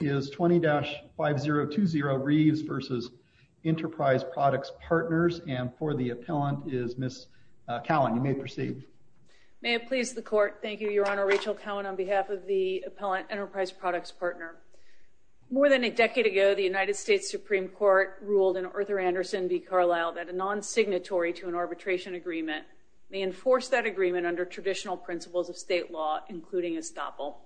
is 20-5020 Reeves v. Enterprise Products Partners, and for the appellant is Ms. Cowan. You may proceed. May it please the court. Thank you, Your Honor. Rachel Cowan on behalf of the appellant Enterprise Products Partner. More than a decade ago, the United States Supreme Court ruled in Arthur Anderson v. Carlyle that a non-signatory to an arbitration agreement may enforce that agreement under traditional principles of state law, including estoppel.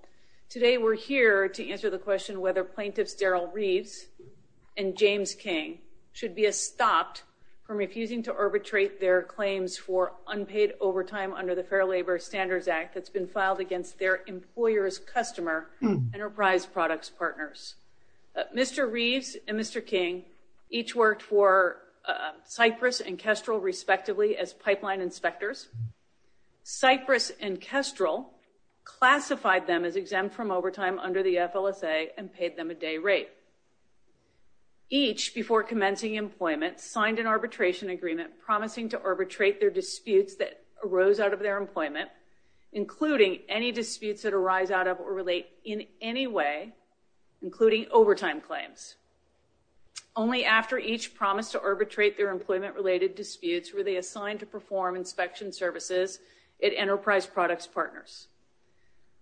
Today we're here to answer the question whether plaintiffs Daryl Reeves and James King should be estopped from refusing to arbitrate their claims for unpaid overtime under the Fair Labor Standards Act that's been filed against their employer's customer, Enterprise Products Partners. Mr. Reeves and Mr. King each worked for Cypress and Kestrel, respectively, as exempt from overtime under the FLSA and paid them a day rate. Each, before commencing employment, signed an arbitration agreement promising to arbitrate their disputes that arose out of their employment, including any disputes that arise out of or relate in any way, including overtime claims. Only after each promised to arbitrate their employment-related disputes were they assigned to perform inspection services at Enterprise Products Partners.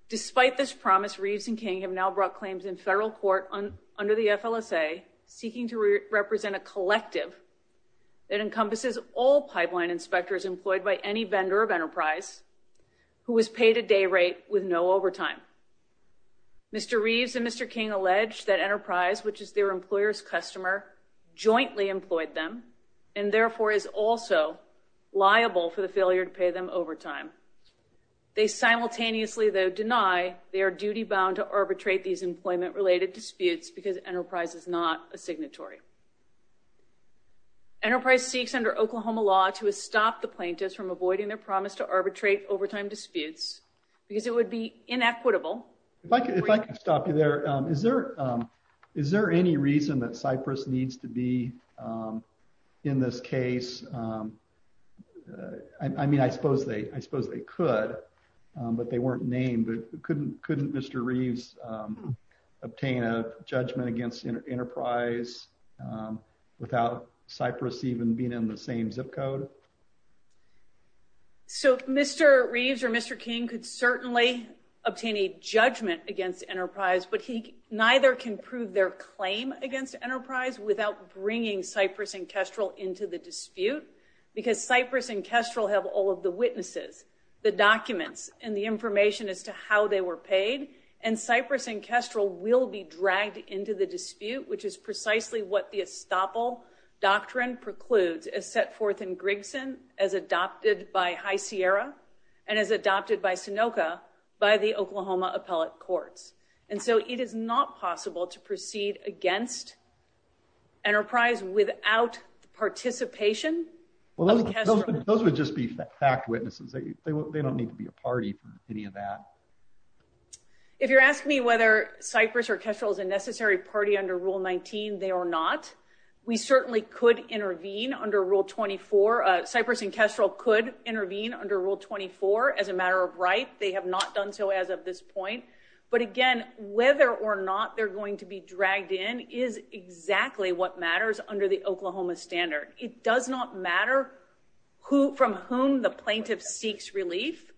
Despite this promise, Reeves and King have now brought claims in federal court under the FLSA seeking to represent a collective that encompasses all pipeline inspectors employed by any vendor of Enterprise who was paid a day rate with no overtime. Mr. Reeves and Mr. King allege that Enterprise, which is their employer's customer, jointly employed them and therefore is also liable for the failure to pay them overtime. They simultaneously, though, deny they are duty-bound to arbitrate these employment-related disputes because Enterprise is not a signatory. Enterprise seeks, under Oklahoma law, to stop the plaintiffs from avoiding their promise to arbitrate overtime disputes because it would be inequitable. If I could stop you there, is there any reason that Cypress needs to be in this case? I mean, I suppose they could, but they weren't named. Couldn't Mr. Reeves obtain a judgment against Enterprise without Cypress even being in the same zip code? So, Mr. Reeves or Mr. King could certainly obtain a judgment against Enterprise, but he neither can prove their claim against Enterprise without bringing Cypress and Kestrel into the dispute because Cypress and Kestrel have all of the witnesses, the documents, and the information as to how they were paid, and Cypress and Kestrel will be dragged into the as adopted by High Sierra and as adopted by Sonoka by the Oklahoma Appellate Courts. And so it is not possible to proceed against Enterprise without the participation of Kestrel. Those would just be fact witnesses. They don't need to be a party for any of that. If you're asking me whether Cypress or Kestrel is a necessary party under Rule 19, they are not. We certainly could intervene under Rule 24. Cypress and Kestrel could intervene under Rule 24 as a matter of right. They have not done so as of this point. But again, whether or not they're going to be dragged in is exactly what matters under the Oklahoma standard. It does not matter who from whom the plaintiff seeks relief.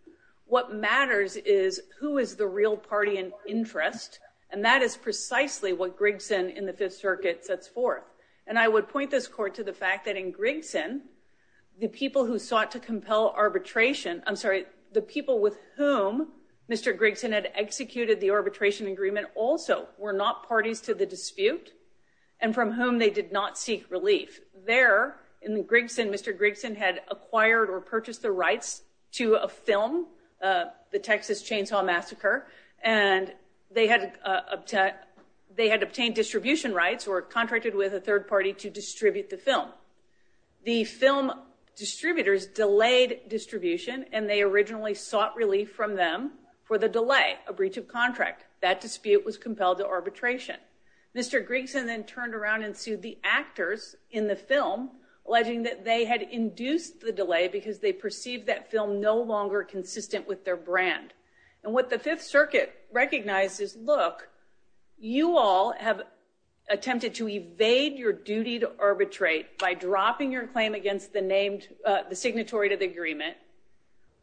What matters is who is the real party in interest. And that is precisely what Grigson in the Fifth Circuit sets forth. And I would point this court to the fact that in Grigson, the people who sought to compel arbitration, I'm sorry, the people with whom Mr. Grigson had executed the arbitration agreement also were not parties to the dispute and from whom they did not seek relief. There in Grigson, Mr. Grigson had acquired or purchased the rights to a film, The Texas Chainsaw Massacre, and they had obtained distribution rights or contracted with a third party to distribute the film. The film distributors delayed distribution and they originally sought relief from them for the delay, a breach of contract. That dispute was compelled to arbitration. Mr. Grigson was reporting that they had induced the delay because they perceived that film no longer consistent with their brand. And what the Fifth Circuit recognizes, look, you all have attempted to evade your duty to arbitrate by dropping your claim against the signatory to the agreement,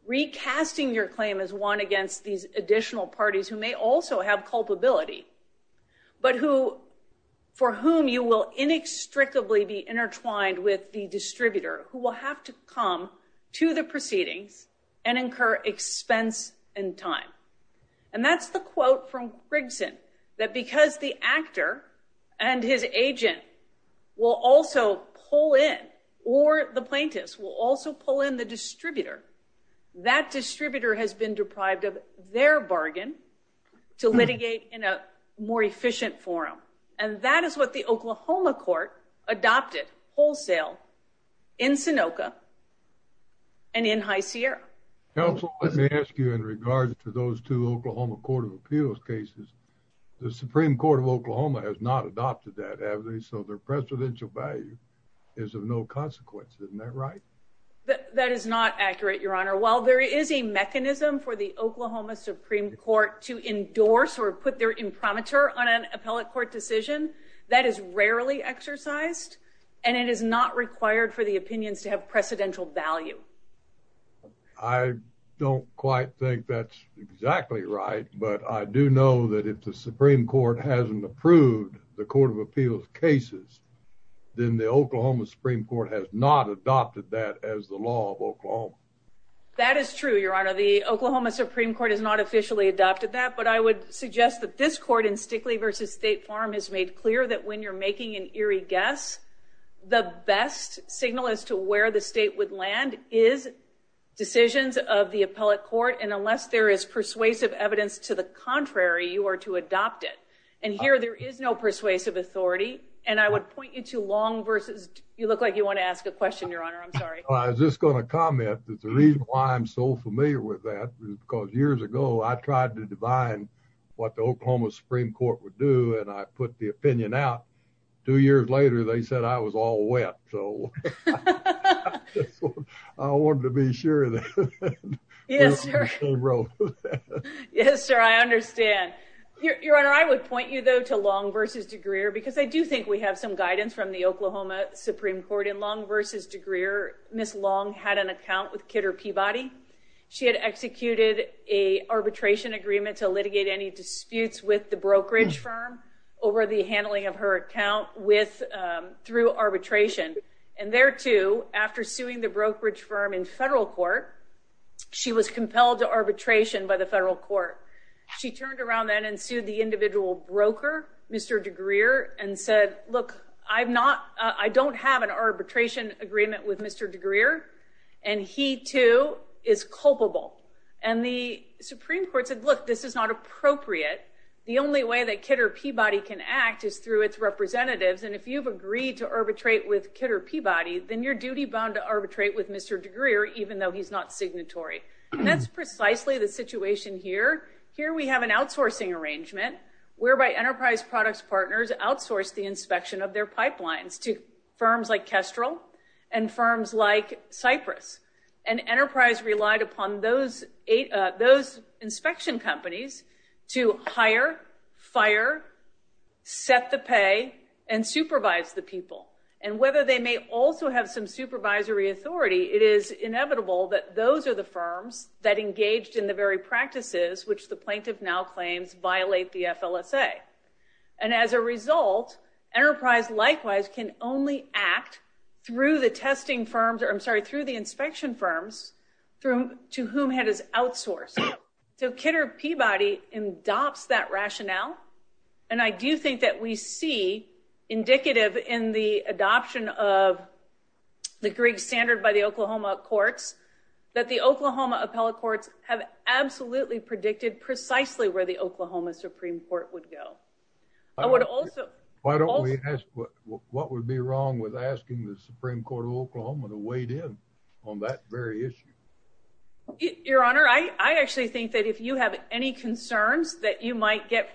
recasting your claim as one against these additional parties who may also have culpability, but for whom you will inextricably be intertwined with the distributor who will have to come to the proceedings and incur expense and time. And that's the quote from Grigson, that because the actor and his agent will also pull in, or the plaintiffs will also pull in the distributor, that distributor has been deprived of their bargain to litigate in a more efficient forum. And that is what the Oklahoma court adopted wholesale in Sonoka and in High Sierra. Counsel, let me ask you in regards to those two Oklahoma Court of Appeals cases, the Supreme Court of Oklahoma has not adopted that, have they? So their presidential value is of no That is not accurate, Your Honor. While there is a mechanism for the Oklahoma Supreme Court to endorse or put their imprimatur on an appellate court decision, that is rarely exercised, and it is not required for the opinions to have precedential value. I don't quite think that's exactly right. But I do know that if the Supreme Court hasn't approved the Court of Appeals cases, then the Oklahoma Supreme Court has not adopted that as the law of Oklahoma. That is true, Your Honor. The Oklahoma Supreme Court has not officially adopted that. But I would suggest that this court in Stickley v. State Farm has made clear that when you're making an eerie guess, the best signal as to where the state would land is decisions of the appellate court. And unless there is persuasive evidence to the contrary, you are to adopt it. And here, there is no persuasive authority. And I would point you to Long v. You look like you want to ask a question, Your Honor. I'm sorry. I was just going to comment that the reason why I'm so familiar with that is because years ago, I tried to divine what the Oklahoma Supreme Court would do. And I put the opinion out. Two years later, they said I was all wet. So I wanted to be sure that we were on the same road. Yes, sir. I understand. Your Honor, I would point you, though, to Long v. DeGrier, because I do think we have some guidance from the Oklahoma Supreme Court. In Long v. DeGrier, Ms. Long had an account with Kidder Peabody. She had executed a arbitration agreement to litigate any disputes with the brokerage firm over the handling of her account through arbitration. And there too, after suing the brokerage firm in federal court, she was compelled to arbitration by the federal court. She turned around then and sued the individual broker, Mr. DeGrier, and said, look, I don't have an arbitration agreement with Mr. DeGrier, and he too is culpable. And the Supreme Court said, look, this is not appropriate. The only way that Kidder Peabody can act is through its representatives. And if you've agreed to arbitrate with Kidder Peabody, then you're duty-bound to arbitrate with Mr. DeGrier, even though he's not signatory. And that's precisely the situation here. Here we have an outsourcing arrangement whereby enterprise products partners outsource the inspection of their pipelines to firms like Kestrel and firms like Cypress. And enterprise relied upon those inspection companies to have some supervisory authority. It is inevitable that those are the firms that engaged in the very practices which the plaintiff now claims violate the FLSA. And as a result, enterprise likewise can only act through the testing firms, I'm sorry, through the inspection firms to whom it is outsourced. So Kidder Peabody adopts that rationale. And I do think that we see indicative in the adoption of the Grieg standard by the Oklahoma courts, that the Oklahoma appellate courts have absolutely predicted precisely where the Oklahoma Supreme Court would go. I would also- Why don't we ask what would be wrong with asking the Supreme Court of Oklahoma to wade in on that very issue? Your Honor, I actually think that if you have any concerns that you might get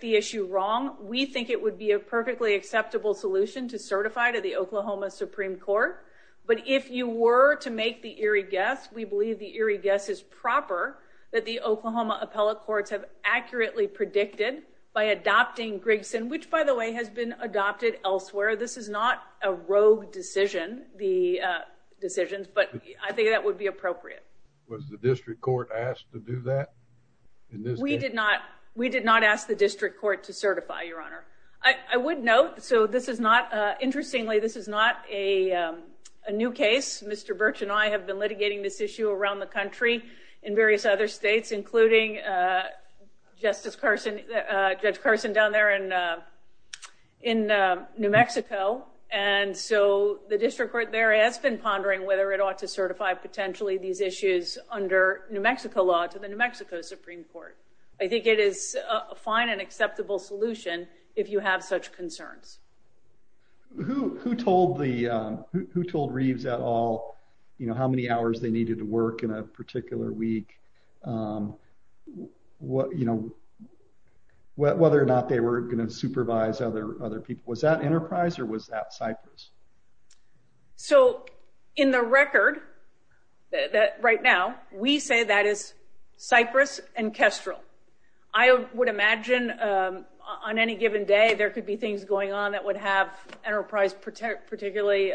the issue wrong, we think it would be a perfectly acceptable solution to certify to the Oklahoma Supreme Court. But if you were to make the eerie guess, we believe the eerie guess is proper that the Oklahoma appellate courts have accurately predicted by adopting Grieg's, which by the way has been adopted elsewhere. This is not a rogue decision, the decisions, but I think that would be appropriate. Was the district court asked to do that? We did not. We did not ask the district court to certify, Your Honor. I would note, so this is not, interestingly, this is not a new case. Mr. Birch and I have been litigating this issue around the country in various other states, including Justice Carson, Judge Carson down there in New Mexico. And so the district court there has been pondering whether it was appropriate for it. I think it is a fine and acceptable solution if you have such concerns. Who told the, who told Reeves at all, you know, how many hours they needed to work in a particular week? You know, whether or not they were going to supervise other people. So, in the record, right now, we say that is Cypress and Kestrel. I would imagine on any given day there could be things going on that would have Enterprise particularly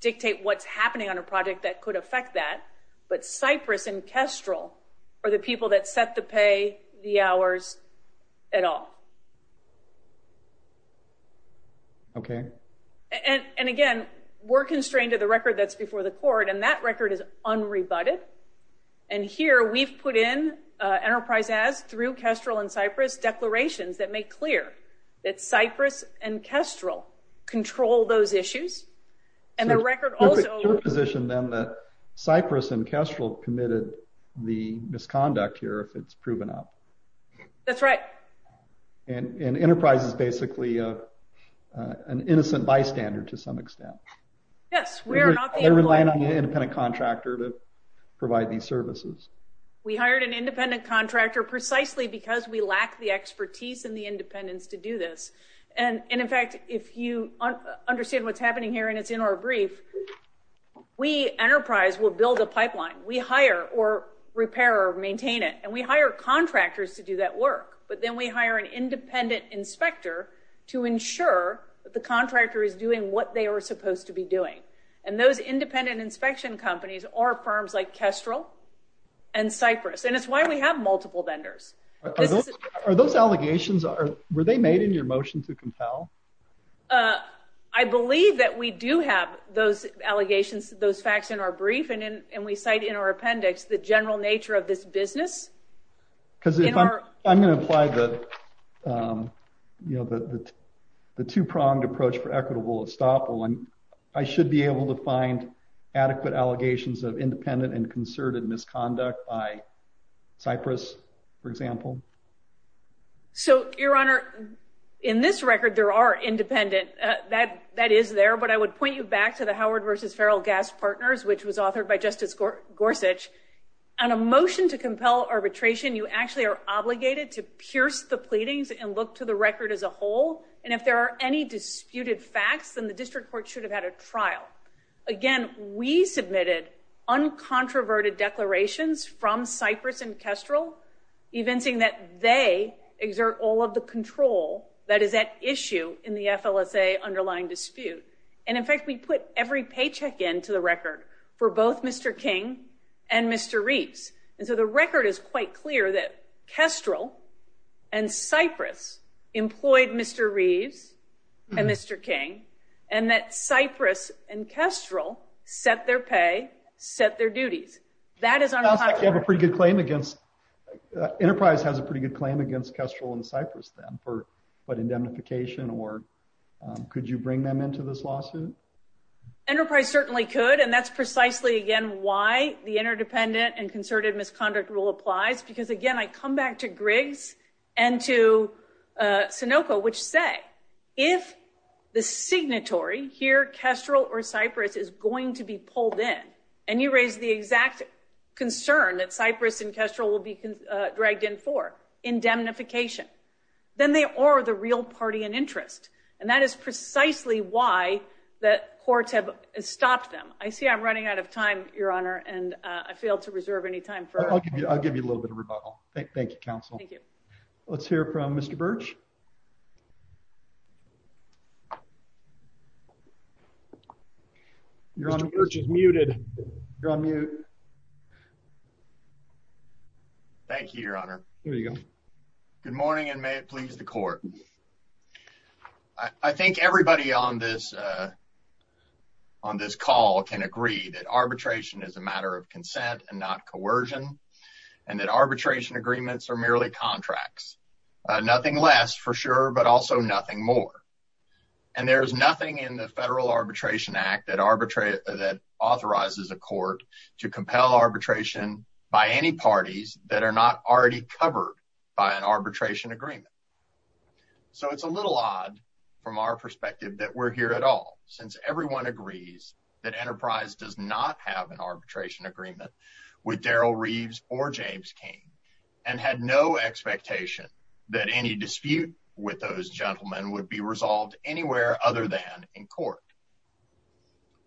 dictate what's happening on a project that could affect that. But Cypress and Kestrel are the people that set the pay, the hours, at all. Okay. And again, we're constrained to the record that's before the court, and that record is unrebutted. And here, we've put in, Enterprise has, through Kestrel and Cypress, declarations that make clear that Cypress and Kestrel control those issues. And the record also... Your position, then, that Cypress and Kestrel committed the misconduct here, if it's proven up. That's right. And Enterprise is basically an innocent bystander, to some extent. Yes, we are not the... They rely on the independent contractor to provide these services. We hired an independent contractor precisely because we lack the expertise and the independence to do this. And in fact, if you understand what's happening here, and it's in our brief, we, Enterprise, will build a pipeline. We hire or repair or maintain it. And we hire contractors to do that work. But then we hire an independent inspector to ensure that the contractor is doing what they are supposed to be doing. And those independent inspection companies are firms like Kestrel and Cypress. And it's why we have multiple vendors. Are those allegations... Your motion to compel? I believe that we do have those allegations, those facts in our brief. And we cite in our appendix the general nature of this business. Because if I'm going to apply the two-pronged approach for equitable estoppel, I should be able to find adequate allegations of independent and concerted misconduct by Cypress, for example. So, Your Honor, in this record, there are independent. That is there. But I would point you back to the Howard v. Ferrell Gas Partners, which was authored by Justice Gorsuch. On a motion to compel arbitration, you actually are obligated to pierce the pleadings and look to the record as a whole. And if there are any disputed facts, then the district court should have had a trial. Again, we submitted uncontroverted declarations from Cypress and Kestrel, evincing that they exert all of the control that is at issue in the FLSA underlying dispute. And, in fact, we put every paycheck into the record for both Mr. King and Mr. Reeves. And so the record is quite clear that Kestrel and Cypress employed Mr. Reeves and Mr. King, and that Cypress and Kestrel set their pay, set their duties. That is unapologetic. Enterprise has a pretty good claim against Kestrel and Cypress, then, for indemnification. Could you bring them into this lawsuit? Enterprise certainly could. And that's precisely, again, why the interdependent and concerted misconduct rule applies. Because, again, I come back to Griggs and to Sunoco, which say, if the signatory here, Kestrel or Cypress, is going to be pulled in, and you raise the exact concern that Cypress and Kestrel will be dragged in for, indemnification, then they are the real party in interest. And that is precisely why the courts have stopped them. I see I'm running out of time, Your Honor, and I failed to reserve any time. I'll give you a little bit of rebuttal. Thank you, counsel. Thank you. Let's hear from Mr. Church. He's muted. You're on mute. Thank you, Your Honor. There you go. Good morning, and may it please the court. I think everybody on this call can agree that arbitration is a matter of consent and not coercion, and that arbitration agreements are merely contracts. Nothing less, for sure, but also nothing more. And there is nothing in the Federal Arbitration Act that authorizes a court to compel arbitration by any parties that are not already covered by an arbitration agreement. So it's a little odd, from our perspective, that we're here at all, since everyone agrees that Enterprise does not have an arbitration agreement with Daryl Reeves or James King, and had no expectation that any dispute with those gentlemen would be resolved anywhere other than in court.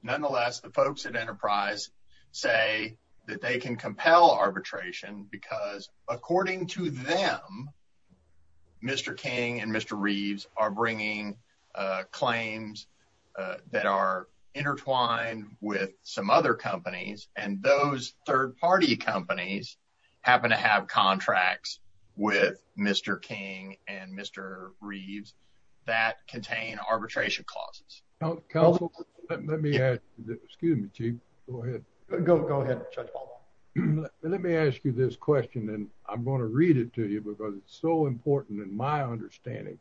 Nonetheless, the folks at Enterprise say that they can compel arbitration because, according to them, Mr. King and Mr. Reeves are bringing claims that are intertwined with some companies, and those third-party companies happen to have contracts with Mr. King and Mr. Reeves that contain arbitration clauses. Counsel, let me ask you this question, and I'm going to read it to you because it's so important in my understanding,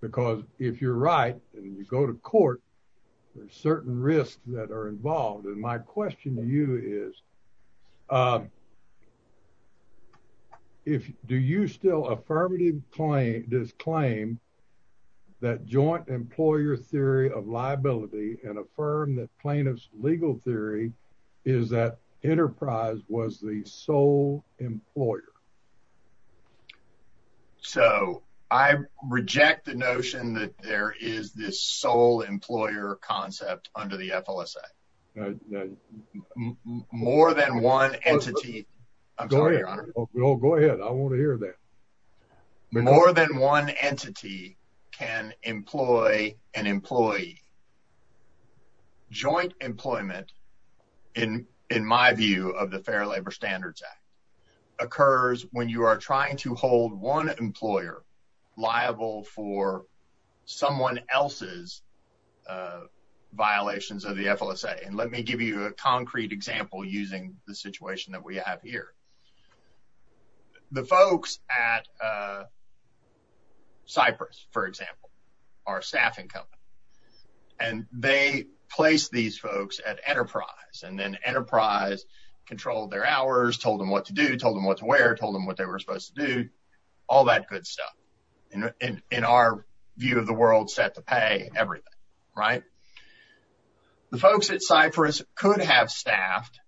because if you're right and you to court, there's certain risks that are involved. And my question to you is, do you still affirm this claim that joint employer theory of liability and affirm that plaintiff's legal theory is that Enterprise was the sole employer? So, I reject the notion that there is this sole employer concept under the FLSA. More than one entity, I'm sorry, Your Honor. Go ahead, I want to hear that. More than one entity can employ an employee. Joint employment, in my view, of the Fair Labor Standards Act occurs when you are trying to hold one employer liable for someone else's violations of the FLSA. And let me give you a concrete example using the situation that we have here. The folks at Cypress, for example, are a staffing company, and they place these hours, told them what to do, told them what to wear, told them what they were supposed to do, all that good stuff. In our view of the world, set to pay everything, right? The folks at Cypress could have staffed,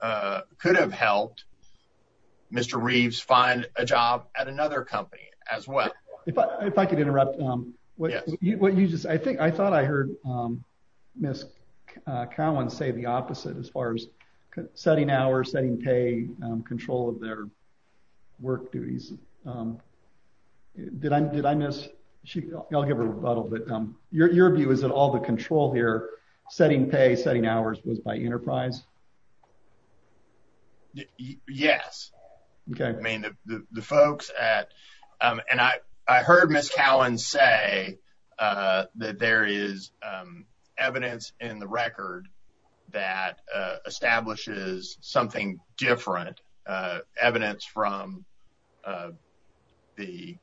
could have helped Mr. Reeves find a job at another company as well. If I could interrupt, what you just, I think, I thought I heard Ms. Cowan say the opposite as far as setting hours, setting pay, control of their work duties. Did I miss, I'll give a rebuttal, but your view is that all the control here, setting pay, setting hours, was by Enterprise? Yes. I mean, the folks at, and I heard Ms. Cowan say that there is evidence in the record that establishes something different, evidence from the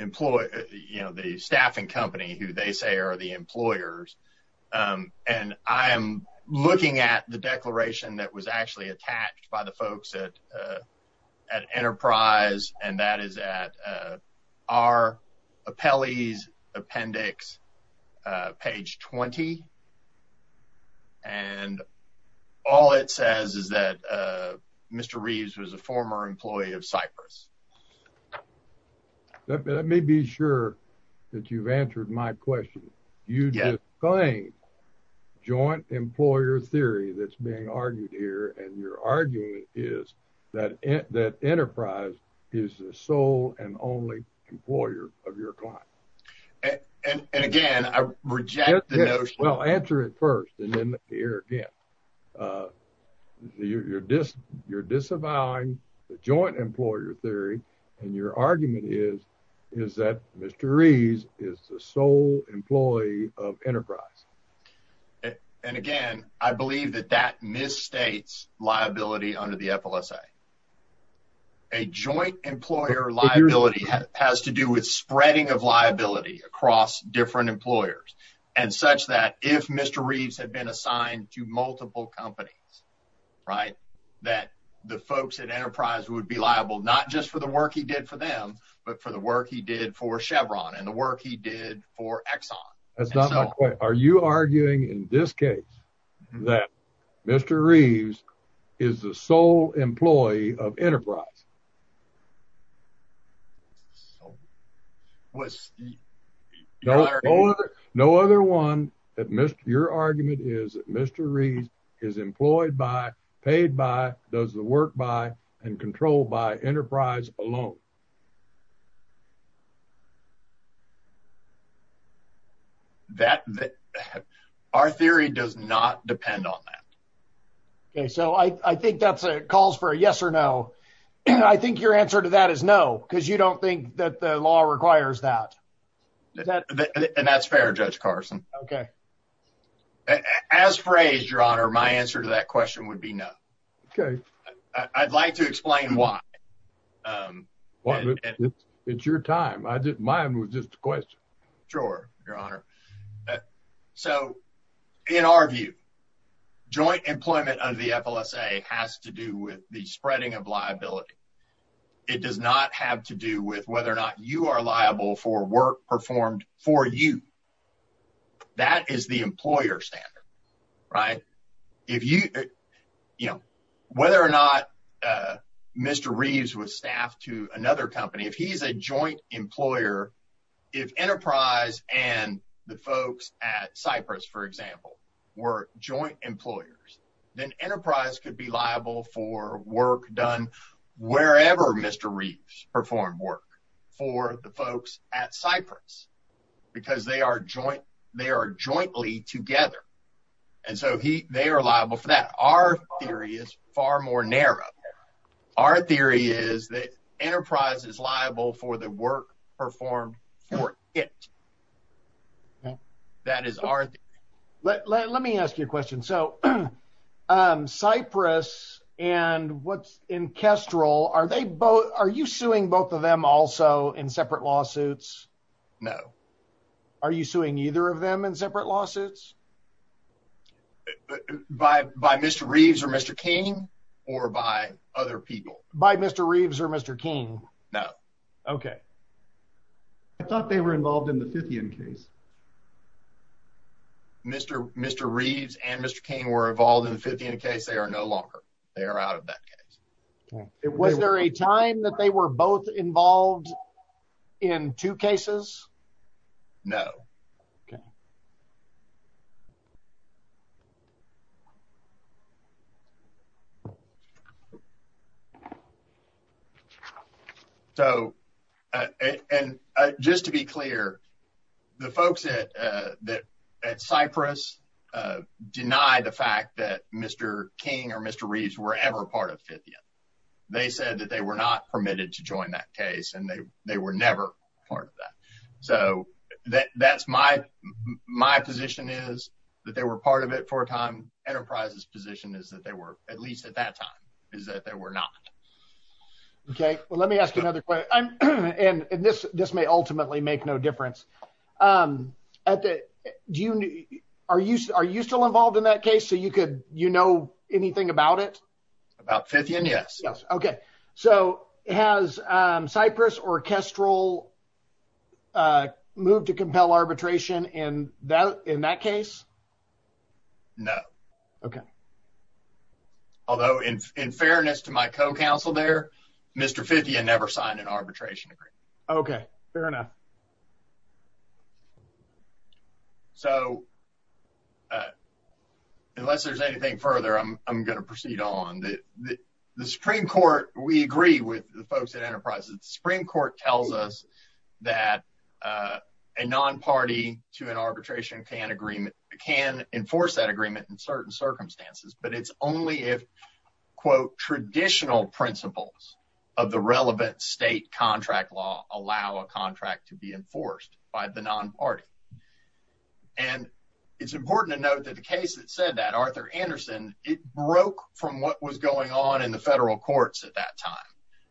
employee, you know, the staffing company who they say are the employers, and I'm looking at the declaration that was actually attached by the folks at Enterprise, and that is at our appellee's appendix, page 20, and all it says is that Mr. Reeves was a former employee of Cypress. Let me be sure that you've answered my question. You just claimed joint employer theory that's being argued here, and your argument is that Enterprise is the sole and only employer of your client. And again, I reject the notion. Well, answer it first, and then the air again. You're disavowing the joint employer theory, and your argument is that Mr. Reeves is the sole employee of Enterprise. And again, I believe that that misstates liability under the FLSA. A joint employer liability has to do with spreading of liability across different employers, and such that if Mr. Reeves had been assigned to multiple companies, right, that the folks at Enterprise would be liable not just for the work he did for them, but for the work he did for Chevron, and the work he did for Exxon. That's not my point. Are you arguing in this case that Mr. Reeves is the sole employee of Enterprise? No other one that your argument is that Mr. Reeves is employed by, paid by, does the work by, and controlled by Enterprise alone? That, our theory does not depend on that. Okay, so I think that's a calls for a yes or no. I think your answer to that is no, because you don't think that the law requires that. And that's fair, Judge Carson. Okay. As phrased, Your Honor, my answer to that question would be no. Okay. I'd like to explain why. It's your time. Mine was just a question. Sure, Your Honor. So, in our view, joint employment under the FLSA has to do with the spreading of liability. It does not have to do with whether or not you are liable for work performed for you. That is the employer standard, right? Whether or not Mr. Reeves was staffed to another company, if he's a joint employer, if Enterprise and the folks at Cypress, for example, were joint employers, then Enterprise could be liable for work done wherever Mr. Reeves performed work for the folks at Cypress, because they are jointly together. And so, they are liable for that. Our theory is far more narrow. Our theory is that Enterprise is liable for the work performed for it. Okay. That is our theory. Let me ask you a question. So, Cypress and what's in Kestrel, are you suing both of them also in separate lawsuits? No. Are you suing either of them in separate lawsuits? By Mr. Reeves or Mr. King, or by other people? By Mr. Reeves or Mr. King? No. Okay. I thought they were involved in the Fithian case. Mr. Reeves and Mr. King were involved in the Fithian case. They are no longer. They are out of that case. Was there a time that they were both involved in two cases? No. Okay. So, just to be clear, the folks at Cypress deny the fact that Mr. King or Mr. Reeves were ever part of Fithian. They said that they were not permitted to join that case, and they were never part of that. So, that's my position is that they were part of it for a time. Enterprise's position is that they were, at least at that time, is that they were not. Okay. Well, let me ask you another question, and this may ultimately make no difference. Are you still involved in that case? So, you know anything about it? About Fithian, yes. Okay. So, has Cypress or Kestrel moved to compel arbitration in that case? No. Okay. Although, in fairness to my co-counsel there, Mr. Fithian never signed an arbitration agreement. Okay. Fair enough. So, unless there's anything further, I'm going to proceed on. The Supreme Court, we agree with the folks at Enterprise. The Supreme Court tells us that a non-party to an arbitration can enforce that agreement in certain circumstances, but it's only if, quote, traditional principles of the relevant state contract law allow a contract to be enforced by the non-party. And it's important to note that the case that said that, Arthur Anderson, it broke from what was going on in the federal courts at that time.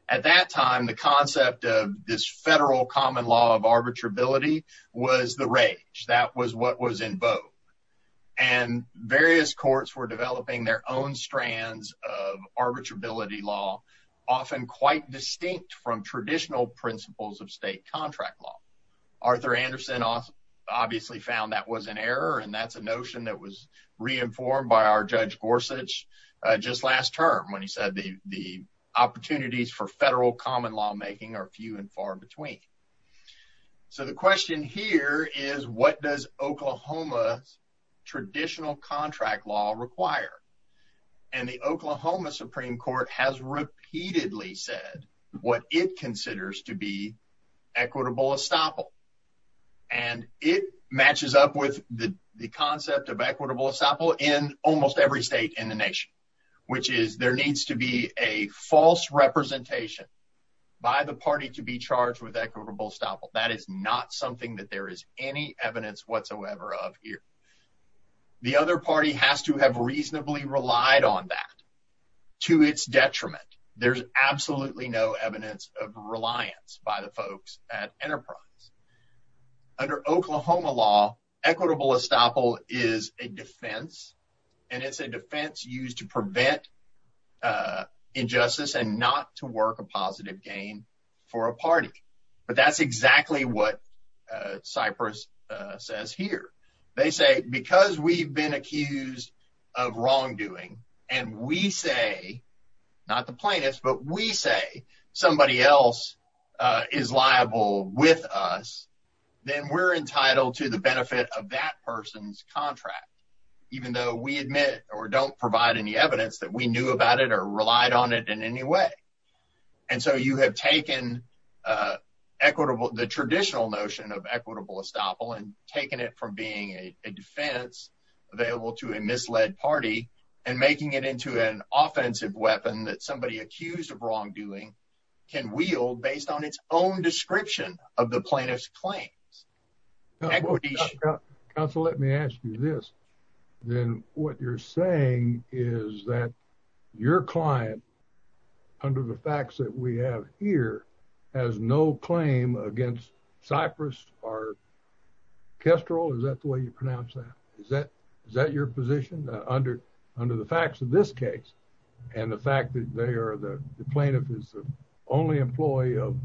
At that time, the concept of this federal common law of arbitrability was the rage. That was what was in vogue. And various courts were developing their own strands of arbitrability law, often quite distinct from traditional principles of state contract law. Arthur Anderson obviously found that was an error, and that's a notion that was re-informed by our Judge Gorsuch just last term when he said the opportunities for federal common lawmaking are few and far between. So, the question here is, what does Oklahoma's traditional contract law require? And the Oklahoma Supreme Court has repeatedly said what it considers to be equitable estoppel. And it matches up with the concept of equitable estoppel in almost every state in the nation, which is there needs to be a false representation by the party to be charged with equitable estoppel. That is not something that there is any evidence whatsoever of here. The other party has to have reasonably relied on that to its detriment. There's absolutely no evidence of reliance by the folks at Enterprise. Under Oklahoma law, equitable estoppel is a defense, and it's a defense used to prevent injustice and not to work a positive gain for a party. But that's exactly what not the plaintiffs, but we say somebody else is liable with us, then we're entitled to the benefit of that person's contract, even though we admit or don't provide any evidence that we knew about it or relied on it in any way. And so, you have taken the traditional notion of equitable estoppel and taken it from being a defense available to a misled party and making it into an offensive weapon that somebody accused of wrongdoing can wield based on its own description of the plaintiff's claims. Equity should not- Counsel, let me ask you this. Then what you're saying is that your client, under the facts that we have here, has no claim against Cypress or Kestrel, is that the way you and the fact that they are the plaintiff is the only employee of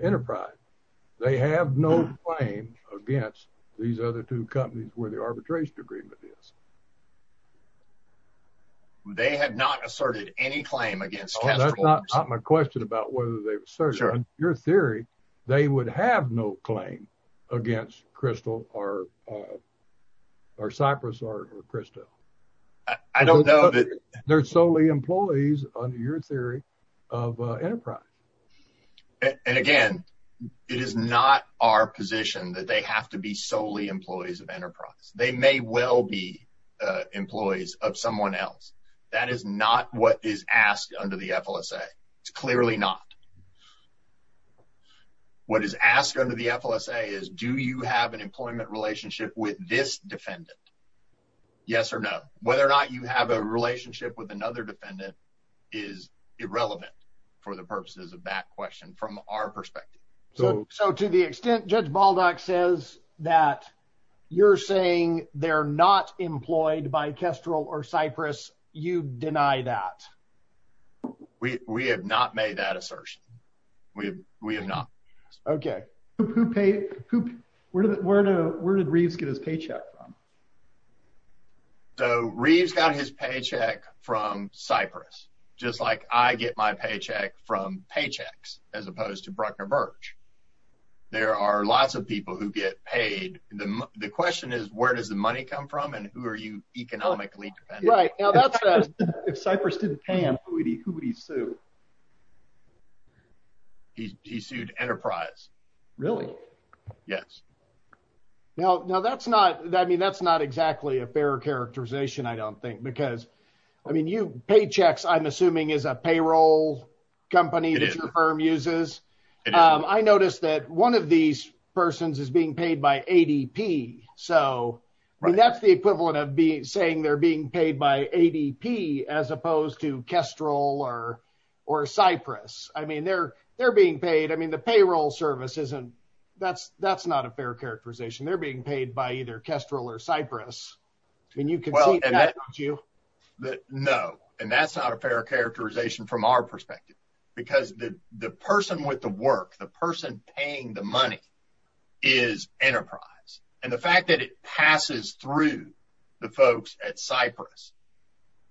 Enterprise, they have no claim against these other two companies where the arbitration agreement is? They have not asserted any claim against Kestrel. Oh, that's not my question about whether they've asserted. In your theory, they would have no claim against Crystal or Cypress or Kestrel. I don't know that- They're solely employees, under your theory, of Enterprise. And again, it is not our position that they have to be solely employees of Enterprise. They may well be employees of someone else. That is not what is asked under the FLSA. It's clearly not. What is asked under the FLSA is, do you have an employment relationship with this defendant? Yes or no. Whether or not you have a relationship with another defendant is irrelevant for the purposes of that question, from our perspective. So to the extent Judge Baldock says that you're saying they're not employed by Kestrel or Cypress, you deny that? We have not made that assertion. We have not. Okay. Where did Reeves get his paycheck from? So Reeves got his paycheck from Cypress, just like I get my paycheck from paychecks, as opposed to Bruckner-Birch. There are lots of people who get paid. The question is, where does the money come from and who are you economically dependent on? Right. Now that's a- If Cypress didn't pay him, who would he sue? He sued Enterprise. Really? Yes. Now, that's not exactly a fair characterization, I don't think, because paychecks, I'm assuming, is a payroll company that your firm uses. It is. I noticed that one of these persons is being paid by ADP. That's the equivalent of saying they're being paid by ADP, as opposed to Kestrel or Cypress. They're being paid. The payroll service, that's not a fair characterization. They're being paid by either Kestrel or Cypress. You can see that, don't you? No. That's not a fair characterization from our perspective, because the person with the work, the person paying the money, is Enterprise. The fact that it passes through the folks at Cypress,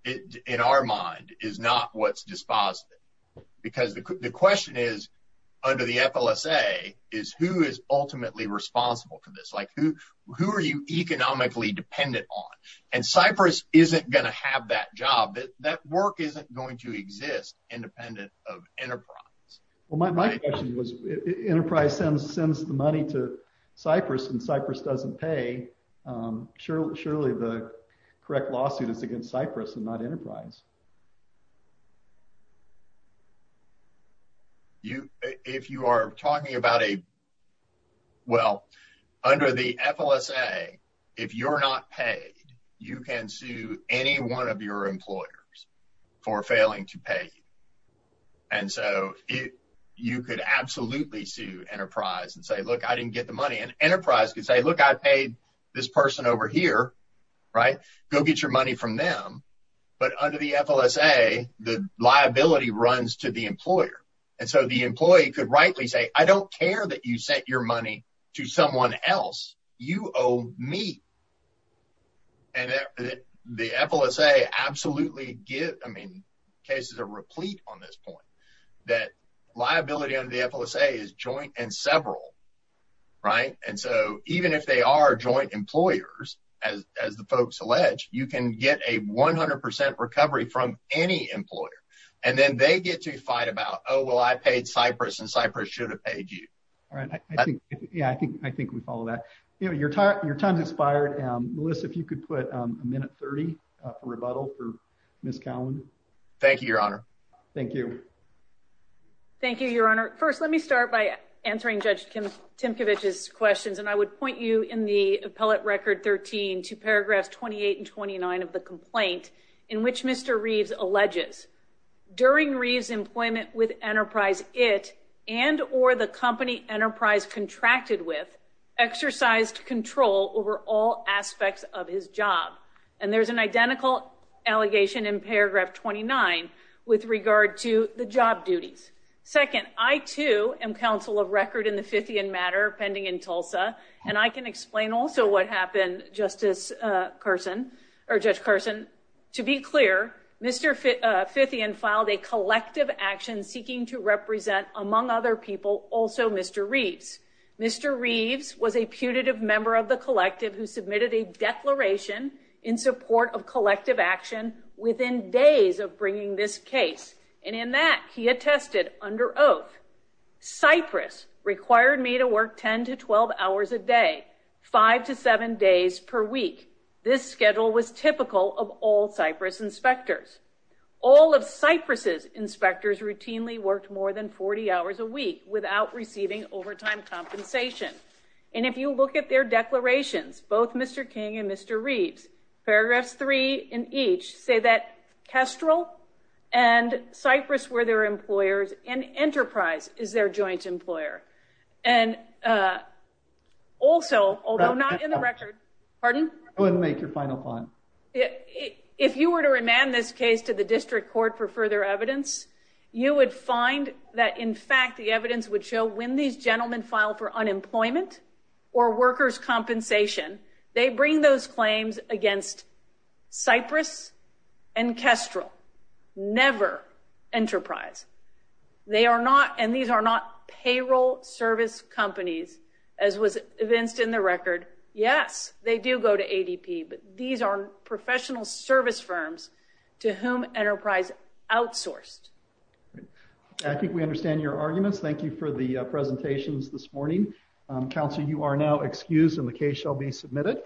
it, in our mind, is not what's dispositive. Because the question is, under the FLSA, is who is ultimately responsible for this? Who are you economically dependent on? Cypress isn't going to have that job. That work isn't going to exist independent of Enterprise. Well, my question was, Enterprise sends the money to Cypress and Cypress doesn't pay. Surely, the correct lawsuit is against Cypress and not Enterprise. If you are talking about a, well, under the FLSA, if you're not paid, you can sue any one of your employers for failing to pay you. You could absolutely sue Enterprise and say, look, I didn't get the money. Enterprise could say, look, I paid this person over here, go get your money from them. But under the FLSA, the liability runs to the employer. And so the employee could rightly say, I don't care that you sent your money to someone else. You owe me. And the FLSA absolutely gives, I mean, cases are replete on this point, that liability under the FLSA is joint and several, right? And so even if they are joint employers, as the folks allege, you can get a 100% recovery from any employer. And then they get to fight about, oh, well, I paid Cypress and Cypress should have paid you. All right. Yeah, I think we follow that. You know, your time's expired. Melissa, if you could put a minute 30 for rebuttal for Ms. Cowan. Thank you, Your Honor. Thank you. Thank you, Your Honor. First, let me start by answering Judge Timkovich's questions. And I would point you in the appellate record 13 to paragraphs 28 and 29 of the complaint in which Mr. Reeves alleges during Reeves' employment with Enterprise, it and or the company Enterprise contracted with exercised control over all aspects of his job. And there's an identical allegation in paragraph 29 with regard to the job duties. Second, I, too, am counsel of record in the Fithian matter pending in Tulsa. And I can explain also what happened, Justice Carson, or Judge Carson. To be clear, Mr. Fithian filed a collective action seeking to represent, among other people, also Mr. Reeves. Mr. Reeves was a putative member of the collective who submitted a declaration in support of collective action within days of bringing this case. And in that, he attested under oath, Cyprus required me to work 10 to 12 hours a day, five to seven days per week. This schedule was typical of all Cyprus inspectors. All of Cyprus' inspectors routinely worked more than 40 hours a week without receiving overtime compensation. And if you look at their declarations, both Mr. King and Mr. Reeves, paragraphs three in each say that Kestrel and Cyprus were their employers and Enterprise is their joint employer. And also, although not in the record, pardon? Go ahead and make your final point. If you were to remand this case to the district court for further evidence, you would find that, in fact, the evidence would show when these gentlemen filed for unemployment or workers' compensation, they bring those claims against Cyprus and Kestrel, never Enterprise. They are not – and these are not payroll service companies, as was evinced in the record. Yes, they do go to ADP, but these are professional service firms to whom Enterprise outsourced. All right. I think we understand your arguments. Thank you for the presentations this morning. Counsel, you are now excused and the case shall be submitted.